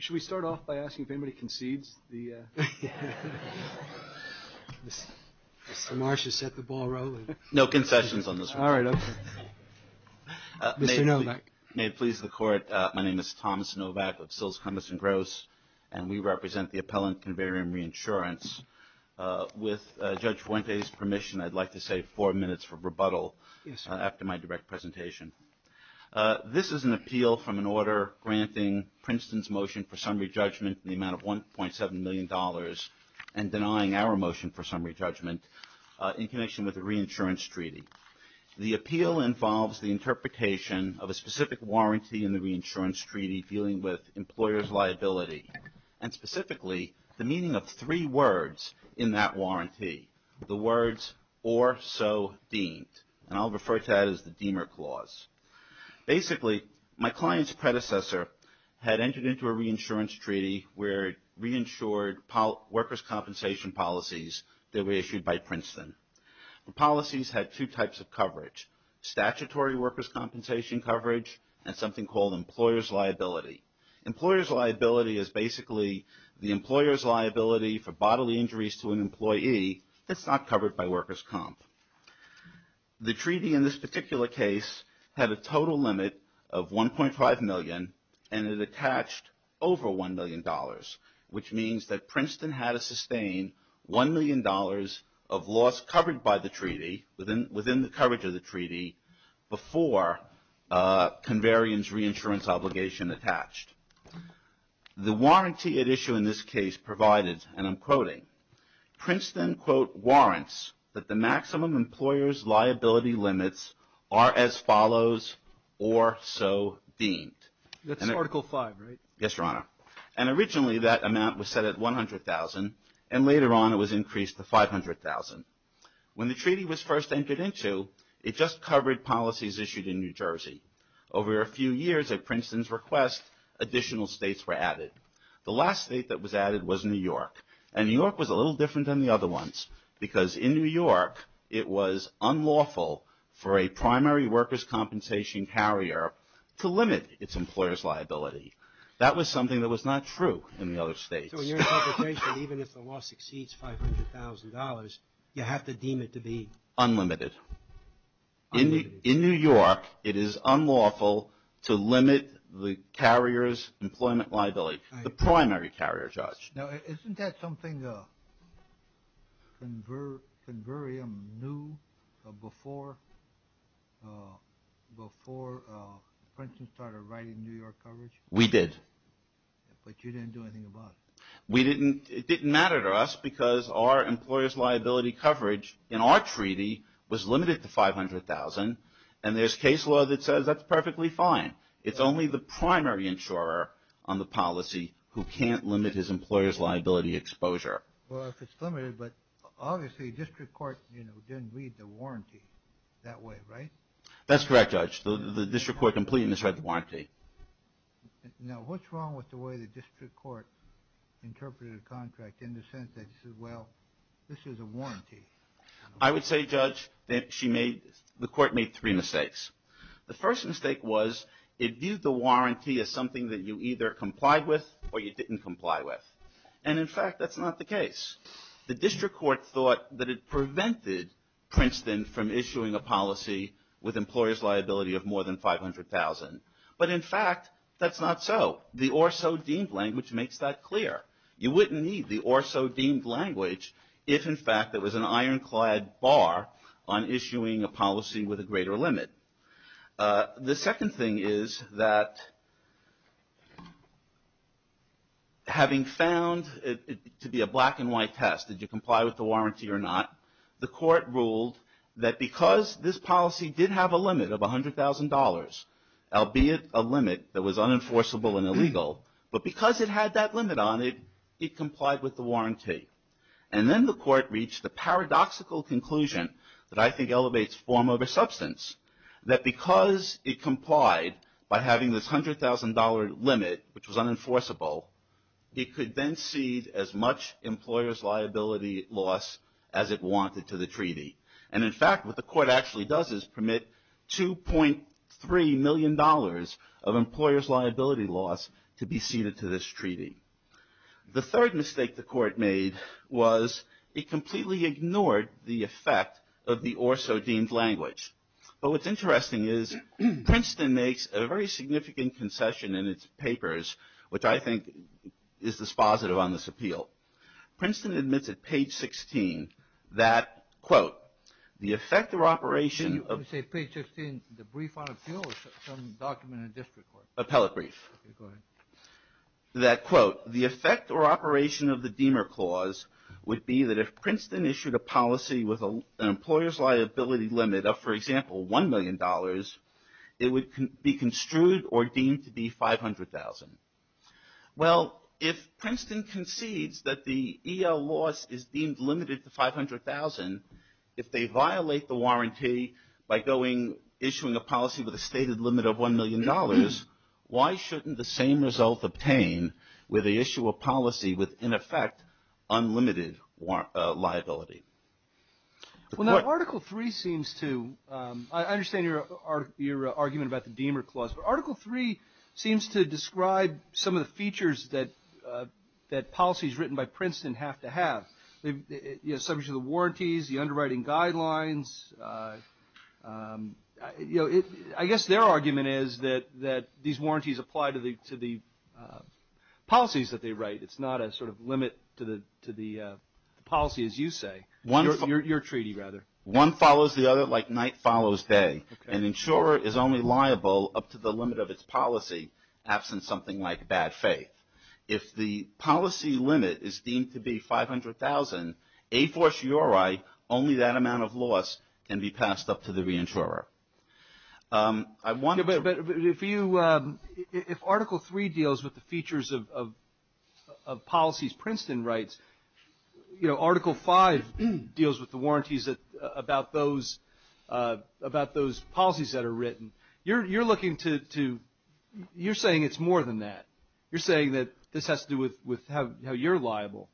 Should we start off by asking if anybody concedes the and denying our motion for summary judgment in connection with the reinsurance treaty? The appeal involves the interpretation of a specific warranty in the reinsurance treaty dealing with employer's liability and specifically the meaning of three words in that warranty. The words or so deemed and I'll refer to that as the deemer clause. Basically my client's predecessor had entered into a reinsurance treaty where it reinsured workers' compensation policies that were issued by Princeton. Policies had two types of coverage, statutory workers' compensation coverage and something called employer's liability. Employer's liability is basically the employer's liability for bodily injuries to an employee that's not covered by workers' comp. The treaty in this particular case had a total limit of 1.5 million and it attached over $1 million which means that Princeton had to sustain $1 million of loss covered by the treaty within the coverage of the treaty before Converion's reinsurance obligation attached. The warranty at issue in this case provided and I'm quoting, Princeton, quote, warrants that the maximum employer's liability limits are as follows or so deemed. That's Article 5, right? Yes, Your Honor. And originally that amount was set at $100,000 and later on it was increased to $500,000. When the treaty was first entered into it just covered policies issued in New Jersey. Over a few years at Princeton's request additional states were added. The last state that was added was New York and New York was a little different than the other ones because in New York it was unlawful for a primary workers' compensation carrier to limit its employer's liability. That was something that was not true in the other states. So in your interpretation even if the loss exceeds $500,000 you have to deem it to be? Unlimited. In New York it is unlawful to limit the carrier's employment liability, the primary carrier, Judge. Now isn't that something Converium knew before Princeton started writing New York coverage? We did. But you didn't do anything about it. We didn't, it didn't matter to us because our employer's liability coverage in our treaty was limited to $500,000 and there's case law that says that's perfectly fine. It's only the primary insurer on the policy who can't limit his employer's liability exposure. Well if it's limited but obviously district court, you know, didn't read the warranty that way, right? That's correct, Judge. The district court completed and read the warranty. Now what's wrong with the way the district court interpreted a contract in the sense that this is, well, this is a warranty? I would say, Judge, that she made, the court made three mistakes. The first mistake was it viewed the warranty as something that you either complied with or you didn't comply with. And in fact, that's not the case. The district court thought that it prevented Princeton from issuing a policy with employer's liability of more than $500,000. But in fact, that's not so. The or so deemed language makes that clear. You wouldn't need the or so deemed language if in fact it was an ironclad bar on issuing a policy with a greater limit. The second thing is that having found it to be a black and white test, did you comply with the warranty or not, the court ruled that because this policy did have a limit of $100,000, albeit a limit that was unenforceable and illegal, but because it had that limit on it, it complied with the warranty. And then the court reached the paradoxical conclusion that I think elevates form over substance, that because it complied by having this $100,000 limit, which was unenforceable, it could then cede as much employer's liability loss as it wanted to the treaty. And in fact, what the court actually does is permit $2.3 million of employer's liability loss to be ceded to this treaty. The third mistake the court made was it completely ignored the effect of the or so deemed language. But what's interesting is Princeton makes a very significant concession in its papers, which I think is dispositive on this appeal. Princeton admits at page 16 that, quote, the effect or operation... Did you say page 16, the brief on appeal or some document in district court? Appellate brief. Okay, go ahead. That quote, the effect or operation of the Deamer Clause would be that if Princeton issued a policy with an employer's liability limit of, for example, $1 million, it would be construed or deemed to be $500,000. Well, if Princeton concedes that the EL loss is deemed limited to $500,000, if they violate the warranty by issuing a policy with a stated limit of $1 million, why shouldn't the same result obtained with the issue of policy with, in effect, unlimited liability? Well, now, Article III seems to... I understand your argument about the Deamer Clause, but Article III seems to describe some of the features that policies written by Princeton have to have. Subject to the warranties, the underwriting guidelines. I guess their argument is that these warranties apply to the policies that they write. It's not a sort of limit to the policy, as you say. Your treaty, rather. One follows the other like night follows day. An insurer is only liable up to the limit of its policy absent something like bad faith. If the policy limit is deemed to be $500,000, a fortiori, only that amount of loss can be passed up to the reinsurer. If Article III deals with the features of policies Princeton writes, Article V deals with the warranties about those policies that are written, you're saying it's more than that. You're saying that this has to do with how you're liable.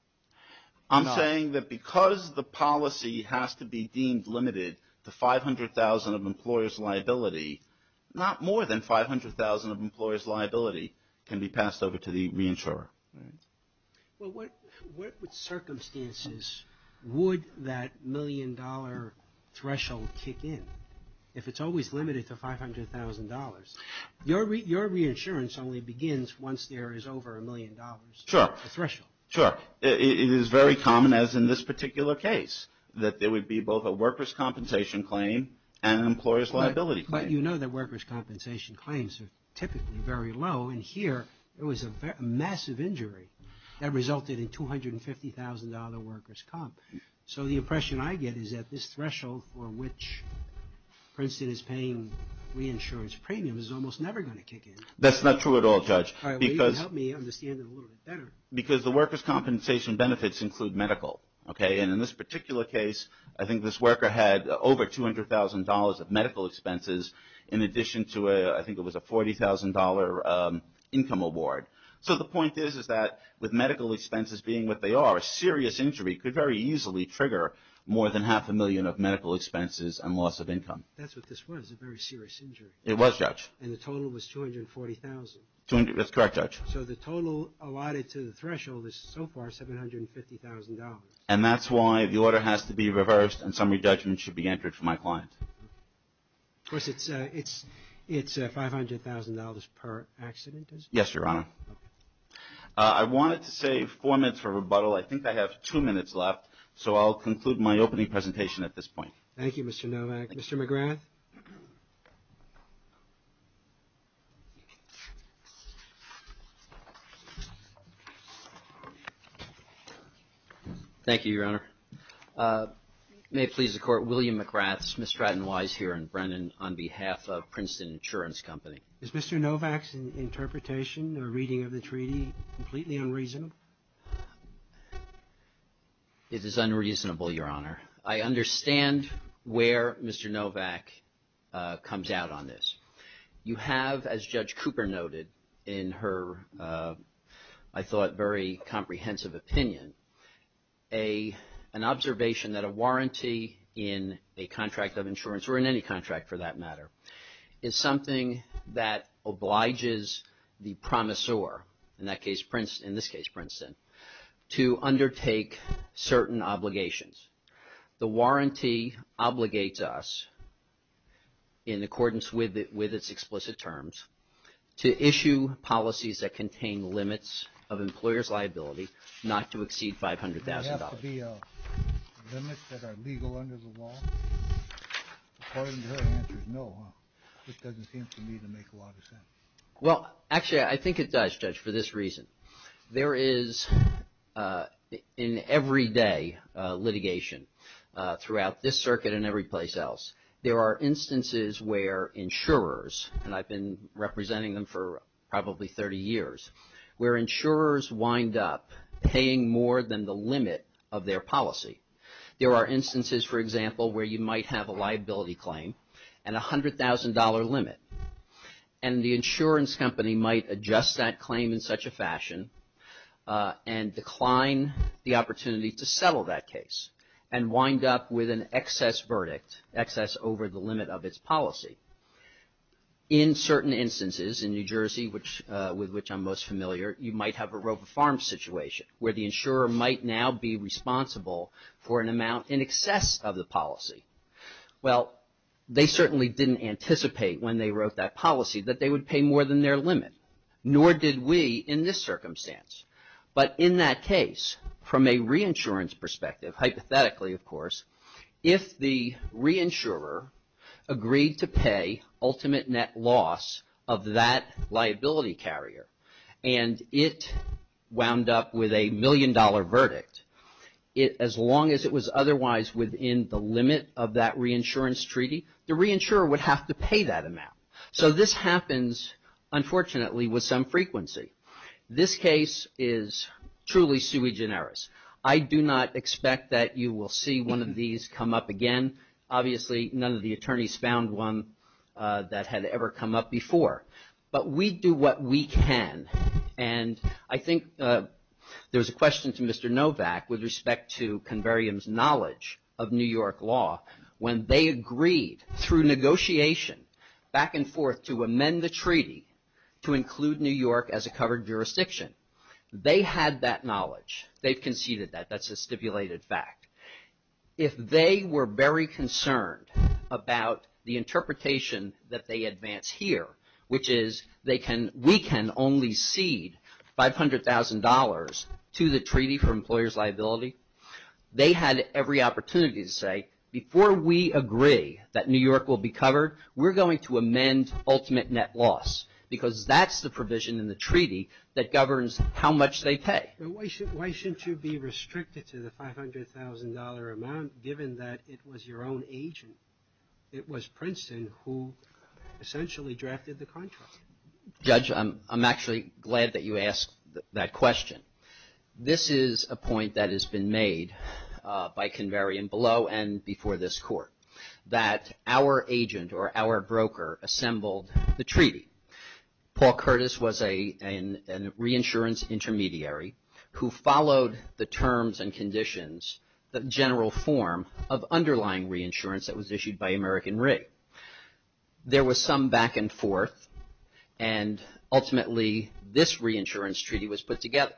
I'm saying that because the policy has to be deemed limited to $500,000 of employer's liability, not more than $500,000 of employer's liability can be passed over to the reinsurer. Well, what circumstances would that million dollar threshold kick in? If it's always limited to $500,000, your reinsurance only begins once there is over a million dollars threshold. Sure, it is very common, as in this particular case, that there would be both a workers' compensation claim and an employer's liability claim. But you know that workers' compensation claims are typically very low. And here, it was a massive injury that resulted in $250,000 workers' comp. So the impression I get is that this threshold for which Princeton is paying reinsurance premium is almost never going to kick in. That's not true at all, Judge. All right, well, you can help me understand it a little bit better. Because the workers' compensation benefits include medical, okay? And in this particular case, I think this worker had over $200,000 of medical expenses in addition to, I think it was a $40,000 income award. So the point is, is that with medical expenses being what they are, a serious injury could very easily trigger more than half a million of medical expenses and loss of income. That's what this was, a very serious injury. It was, Judge. And the total was $240,000. That's correct, Judge. So the total allotted to the threshold is so far $750,000. And that's why the order has to be reversed and summary judgment should be entered for my client. Of course, it's $500,000 per accident, is it? Yes, Your Honor. I wanted to save four minutes for rebuttal. I think I have two minutes left. So I'll conclude my opening presentation at this point. Thank you, Mr. Novak. Mr. McGrath. Thank you, Your Honor. May it please the Court, William McGrath, Smith Stratton Wise here in Brennan on behalf of Princeton Insurance Company. Is Mr. Novak's interpretation or reading of the treaty completely unreasonable? It is unreasonable, Your Honor. I understand where Mr. Novak comes out on this. You have, as Judge Cooper noted in her, I thought, very comprehensive opinion, an observation that a warranty in a contract of insurance or in any contract for that matter is something that obliges the promisor, in this case Princeton, to undertake certain obligations. The warranty obligates us, in accordance with its explicit terms, to issue policies that contain limits of employer's liability not to exceed $500,000. Does it have to be limits that are legal under the law? According to her answer, no. It doesn't seem to me to make a lot of sense. Well, actually, I think it does, Judge, for this reason. There is, in everyday litigation throughout this circuit and every place else, there are instances where insurers, and I've been representing them for probably 30 years, where insurers wind up paying more than the limit of their policy. There are instances, for example, where you might have a liability claim and a $100,000 limit, and the insurance company might adjust that claim in such a fashion and decline the opportunity to settle that case and wind up with an excess verdict, excess over the limit of its policy. In certain instances, in New Jersey, with which I'm most familiar, you might have a Roper Farms situation where the insurer might now be responsible for an amount in excess of the policy. Well, they certainly didn't anticipate when they wrote that policy that they would pay more than their limit, nor did we in this circumstance. But in that case, from a reinsurance perspective, hypothetically, of course, if the reinsurer agreed to pay ultimate net loss of that liability carrier and it wound up with a million-dollar verdict, as long as it was otherwise within the limit of that reinsurance treaty, the reinsurer would have to pay that amount. So this happens, unfortunately, with some frequency. This case is truly sui generis. I do not expect that you will see one of these come up again. Obviously, none of the attorneys found one that had ever come up before. But we do what we can. And I think there's a question to Mr. Novak with respect to Converium's knowledge of New York law when they agreed through negotiation back and forth to amend the treaty to include New York as a covered jurisdiction. They had that knowledge. They've conceded that. That's a stipulated fact. If they were very concerned about the interpretation that they advance here, which is we can only cede $500,000 to the Treaty for Employers' Liability, they had every opportunity to say, before we agree that New York will be covered, we're going to amend ultimate net loss because that's the provision in the treaty that governs how much they pay. But why shouldn't you be restricted to the $500,000 amount given that it was your own agent? It was Princeton who essentially drafted the contract. Judge, I'm actually glad that you asked that question. This is a point that has been made by Converium below and before this Court that our agent or our broker assembled the treaty. Paul Curtis was a reinsurance intermediary who followed the terms and conditions the general form of underlying reinsurance that was issued by American Re. There was some back and forth and ultimately this reinsurance treaty was put together.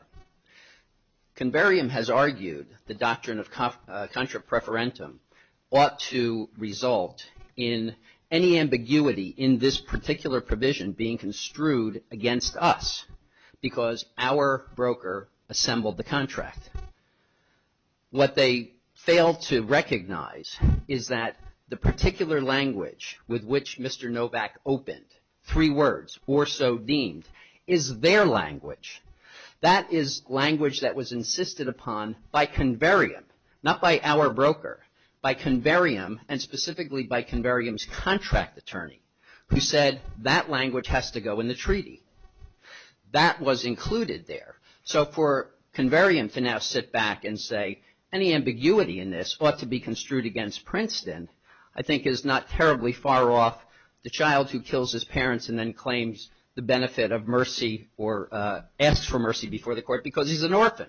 Converium has argued the doctrine of contra preferentum ought to result in any ambiguity in this particular provision being construed against us because our broker assembled the contract. What they failed to recognize is that the particular language with which Mr. Novak opened, three words, or so deemed, is their language. That is language that was insisted upon by Converium, not by our broker, by Converium and specifically by Converium's contract attorney who said that language has to go in the treaty. That was included there. So for Converium to now sit back and say any ambiguity in this ought to be construed against Princeton I think is not terribly far off the child who kills his parents and then claims the benefit of mercy or asks for mercy before the Court because he's an orphan.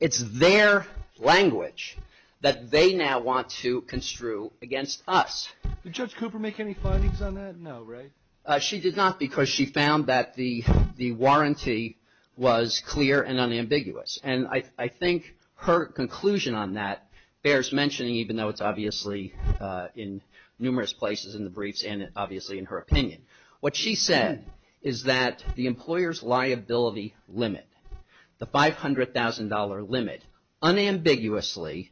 It's their language that they now want to construe against us. Did Judge Cooper make any findings on that? No, right? She did not because she found that the warranty was clear and unambiguous and I think her conclusion on that bears mentioning even though it's obviously in numerous places in the briefs and obviously in her opinion. What she said is that the employer's liability limit, the $500,000 limit, unambiguously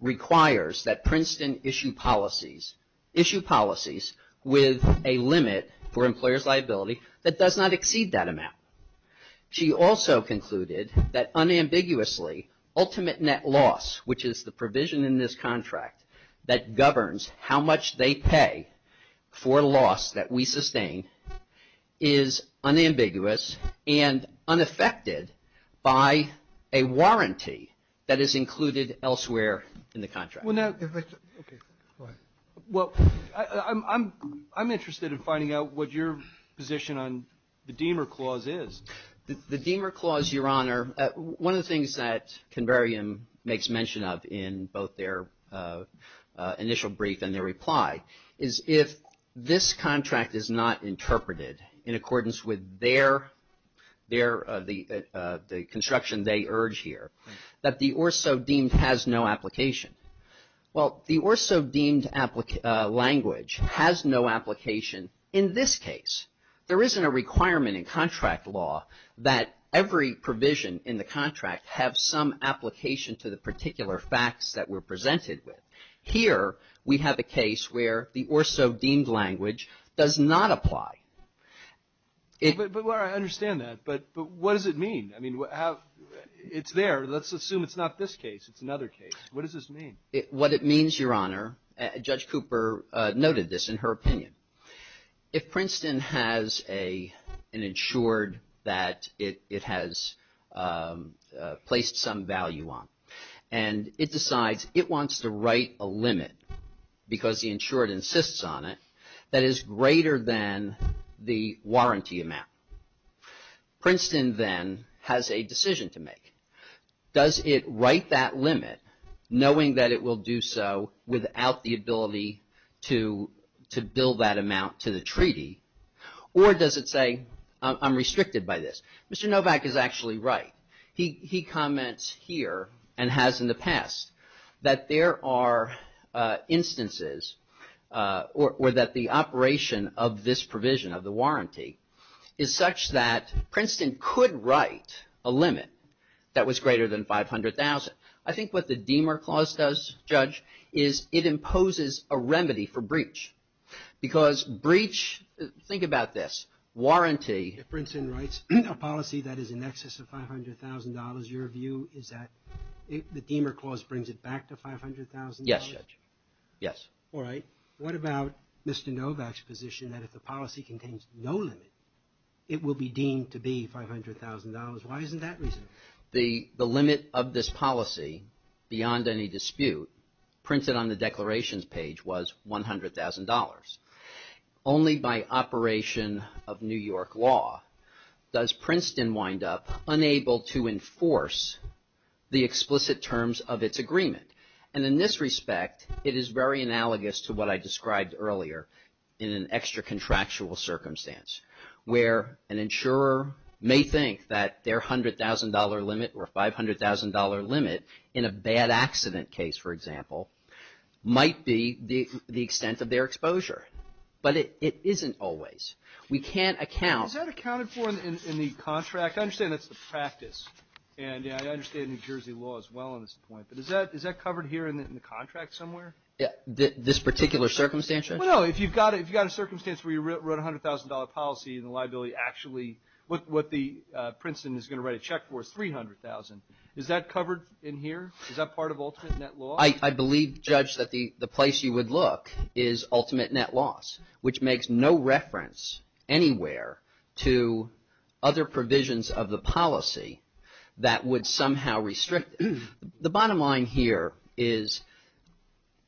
requires that Princeton issue policies with a limit for employer's liability that does not exceed that amount. She also concluded that unambiguously ultimate net loss which is the provision in this contract that governs how much they pay for loss that we sustain is unambiguous and unaffected by a warranty that is included elsewhere in the contract. Well, I'm interested in finding out what your position on the Deamer Clause is. The Deamer Clause, Your Honor, one of the things that Converium makes mention of in both their initial brief and their reply is if this contract is not interpreted in accordance with the construction they urge here that the or so deemed has no application. Well, the or so deemed language has no application in this case. There isn't a requirement in contract law that every provision in the contract have some application to the particular facts that were presented with. Here, we have a case where the or so deemed language does not apply. But I understand that, but what does it mean? I mean, it's there. Let's assume it's not this case. It's another case. What does this mean? What it means, Your Honor, Judge Cooper noted this in her opinion. If Princeton has an insured that it has placed some value on and it decides it wants to write a limit because the insured insists on it that is greater than the warranty amount. Princeton then has a decision to make. Does it write that limit knowing that it will do so without the ability to bill that amount to the treaty or does it say I'm restricted by this? Mr. Novak is actually right. He comments here and has in the past that there are instances or that the operation of this provision of the warranty is such that Princeton could write a limit I think what the Deamer Clause does, Judge, is it imposes a remedy for breach because breach... Think about this. Warranty... If Princeton writes a policy that is in excess of $500,000, your view is that the Deamer Clause brings it back to $500,000? Yes, Judge. Yes. All right. What about Mr. Novak's position that if the policy contains no limit it will be deemed to be $500,000? Why isn't that reasonable? The limit of this policy beyond any dispute printed on the declarations page was $100,000. Only by operation of New York law does Princeton wind up unable to enforce the explicit terms of its agreement. And in this respect it is very analogous to what I described earlier in an extra contractual circumstance where an insurer may think that their $100,000 limit or $500,000 limit in a bad accident case, for example, might be the extent of their exposure. But it isn't always. We can't account... Is that accounted for in the contract? I understand that's the practice. And I understand New Jersey law is well on this point. But is that covered here in the contract somewhere? Yeah. This particular circumstance, Judge? Well, no. If you've got a circumstance where you wrote a $100,000 policy and the liability actually... What Princeton is going to write a check for is $300,000. Is that covered in here? Is that part of ultimate net law? I believe, Judge, that the place you would look is ultimate net loss, which makes no reference anywhere to other provisions of the policy that would somehow restrict... The bottom line here is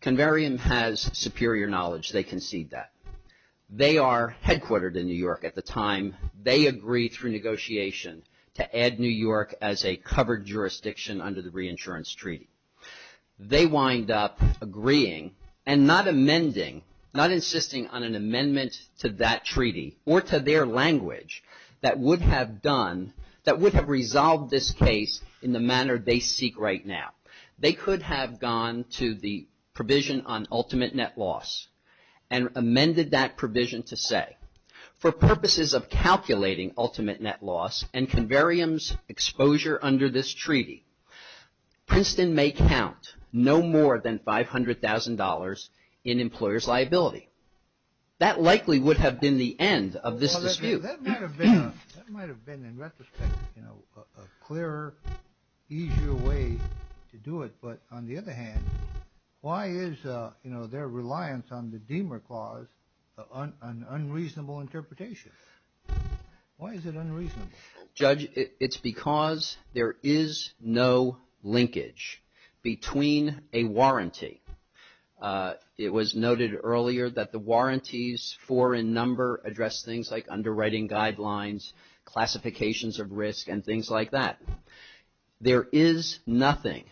Converium has superior knowledge. They concede that. They are headquartered in New York at the time they agreed through negotiation to add New York as a covered jurisdiction under the Reinsurance Treaty. They wind up agreeing and not amending, not insisting on an amendment to that treaty or to their language that would have done... that would have resolved this case in the manner they seek right now. They could have gone to the provision on ultimate net loss and amended that provision to say, for purposes of calculating ultimate net loss and Converium's exposure under this treaty, Princeton may count no more than $500,000 in employer's liability. That likely would have been the end of this dispute. Well, that might have been... That might have been, in retrospect, you know, a clearer, easier way to do it. But on the other hand, why is, you know, their reliance on the Deamer Clause an unreasonable interpretation? Why is it unreasonable? Judge, it's because there is no linkage between a warranty. It was noted earlier that the warranties four in number address things like underwriting guidelines, classifications of risk, and things like that. There is nothing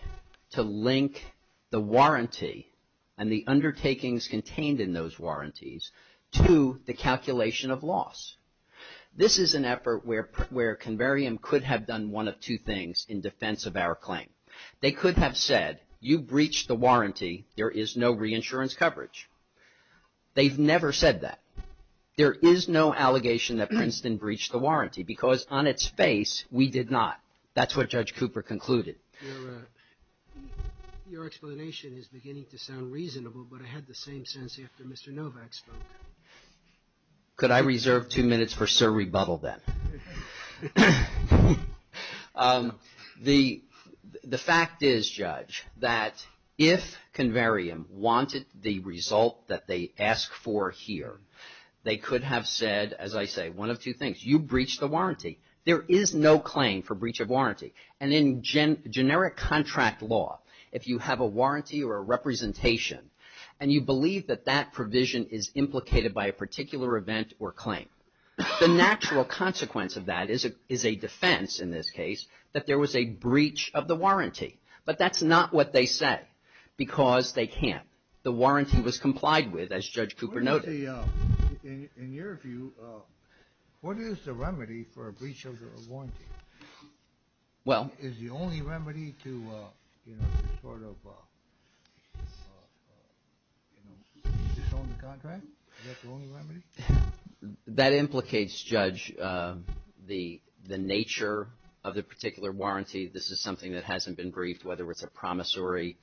to link the warranty and the undertakings contained in those warranties to the calculation of loss. This is an effort where Converium could have done one of two things in defense of our claim. They could have said, you breached the warranty, there is no reinsurance coverage. They've never said that. There is no allegation that Princeton breached the warranty because on its face, we did not. That's what Judge Cooper concluded. Your explanation is beginning to sound reasonable, but I had the same sense after Mr. Novak spoke. Could I reserve two minutes for Sir Rebuttal then? The fact is, Judge, that if Converium wanted the result that they ask for here, they could have said, as I say, one of two things. You breached the warranty. There is no claim for breach of warranty. And in generic contract law, if you have a warranty or a representation and you believe that that provision is implicated by a particular event or claim, the natural consequence of that is a defense, in this case, that there was a breach of the warranty. But that's not what they say because they can't. The warranty was complied with, as Judge Cooper noted. In your view, what is the remedy for a breach of the warranty? Is the only remedy to sort of disown the contract? That implicates, Judge, the nature of the particular warranty. This is something that hasn't been briefed, whether it's a promissory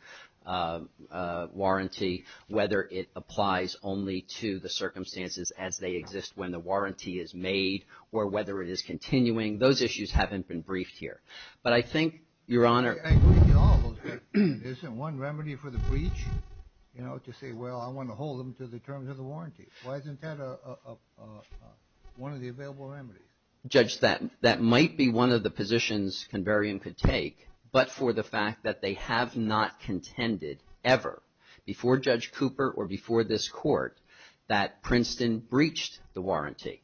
warranty, whether it applies only to the circumstances as they exist when the warranty is made, or whether it is continuing. Those issues haven't been briefed here. But I think, Your Honor... I agree with you, all of us, but isn't one remedy for the breach? You know, to say, well, I want to hold them to the terms of the warranty. Why isn't that one of the available remedies? Judge, that might be one of the positions Converium could take, but for the fact that they have not contended, ever, before Judge Cooper or before this Court, that Princeton breached the warranty.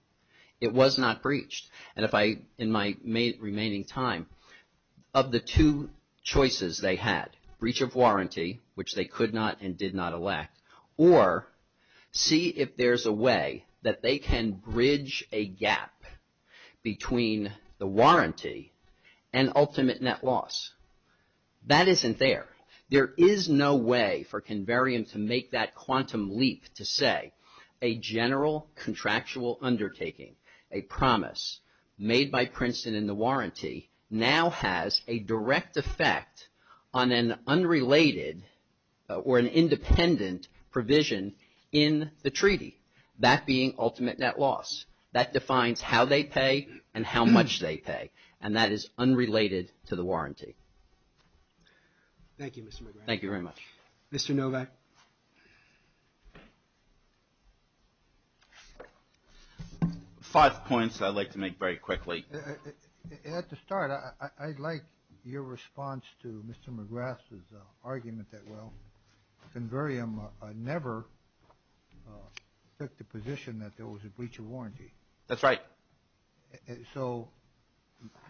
It was not breached. And if I, in my remaining time, of the two choices they had, breach of warranty, which they could not and did not elect, or see if there's a way that they can bridge a gap between the warranty and ultimate net loss, that isn't there. There is no way for Converium to make that quantum leap to say a general contractual undertaking, a promise, made by Princeton in the warranty, now has a direct effect on an unrelated or an independent provision in the treaty. That being ultimate net loss. That defines how they pay and how much they pay. And that is unrelated to the warranty. Thank you, Mr. McGrath. Thank you very much. Mr. Novak. Five points I'd like to make very quickly. At the start, I'd like your response to Mr. McGrath's argument that, well, Converium never took the position that there was a breach of warranty. That's right. So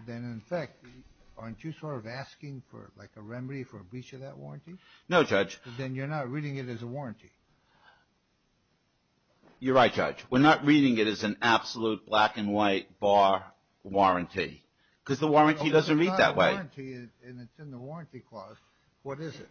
then, in fact, aren't you sort of asking for like a remedy for a breach of that warranty? No, Judge. Then you're not reading it as a warranty. You're right, Judge. as an absolute black and white bar warranty. Because the warranty doesn't read that way. If it's not a warranty and it's in the warranty clause, what is it?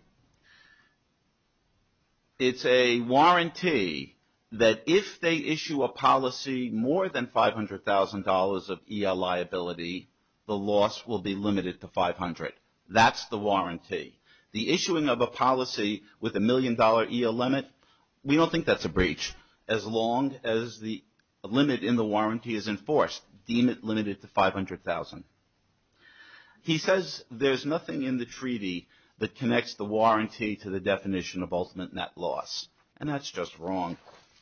It's a warranty that if they issue a policy more than $500,000 of EO liability, the loss will be limited to $500,000. That's the warranty. The issuing of a policy with a million dollar EO limit, we don't think that's a breach as long as the limit in the warranty is enforced. Deem it limited to $500,000. He says there's nothing in the treaty that connects the warranty to the definition of ultimate net loss. And that's just wrong.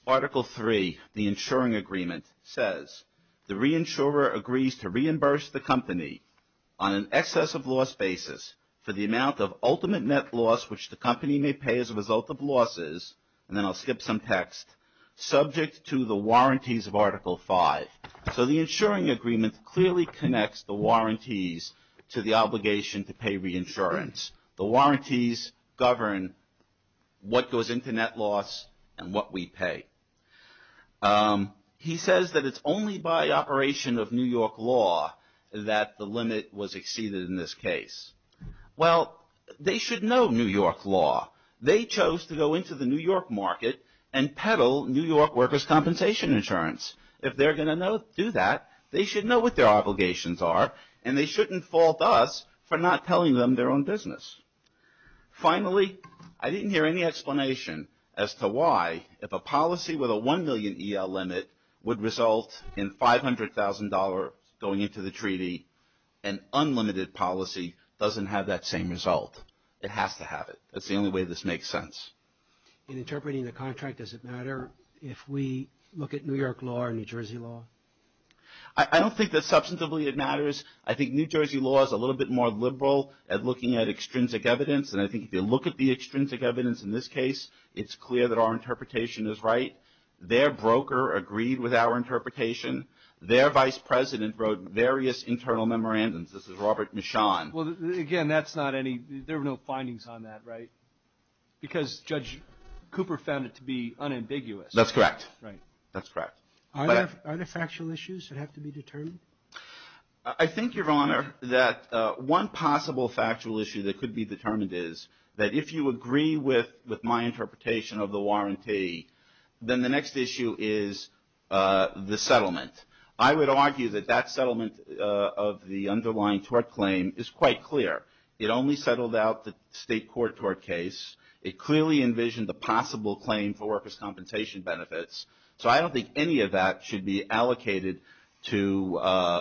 Article three, the insuring agreement says the reinsurer agrees to reimburse the company on an excess of loss basis for the amount of ultimate net loss, which the company may pay as a result of losses, and then I'll skip some text, subject to the warranties of article five. So the insuring agreement clearly connects the warranties to the obligation to pay reinsurance. The warranties govern what goes into net loss and what we pay. He says that it's only by operation of New York law that the limit was exceeded in this case. Well, they should know New York law. They chose to go into the New York market and peddle New York workers' compensation insurance. If they're going to do that, they should know what their obligations are, and they shouldn't fault us for not telling them their own business. Finally, I didn't hear any explanation as to why, if a policy with a $1 million EL limit would result in $500,000 going into the treaty, an unlimited policy doesn't have that same result. It has to have it. That's the only way this makes sense. In interpreting the contract, does it matter if we look at New York law or New Jersey law? I don't think that substantively it matters. I think New Jersey law is a little bit more liberal at looking at extrinsic evidence, and I think if you look at the extrinsic evidence in this case, it's clear that our interpretation is right. Their broker agreed with our interpretation. Their vice president wrote various internal memorandums. This is Robert Michon. Well, again, that's not any there were no findings on that, right? Because Judge Cooper That's correct. Right. That's correct. Are there factual issues that have to be determined? I think, Your Honor, that one possible factual issue that could be determined is that if you agree with my interpretation of the warranty, then the next issue is the settlement. I would argue that that settlement of the underlying tort claim is quite clear. It only settled out the state court tort case. It clearly envisioned the possible claim for workers' compensation benefits. So I don't think any of that should be allocated to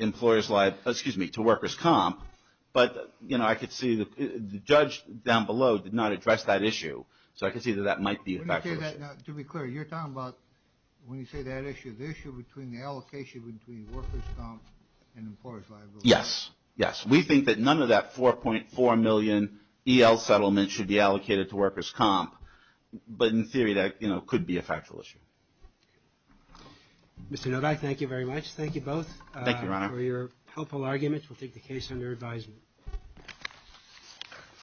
employers' liability. Excuse me, to workers' comp. But, you know, I could see the judge down below did not address that issue. So I can see that that might be a factual issue. To be clear, you're talking about when you say that issue, the issue between the allocation between workers' comp and employers' liability. Yes. Yes. We think that none of that 4.4 million EL settlement should be allocated to workers' comp. But in theory, that, you know, could be a factual issue. Mr. Nodai, thank you very much. Thank you both. Thank you, Your Honor. Your helpful arguments will take the case under advisement.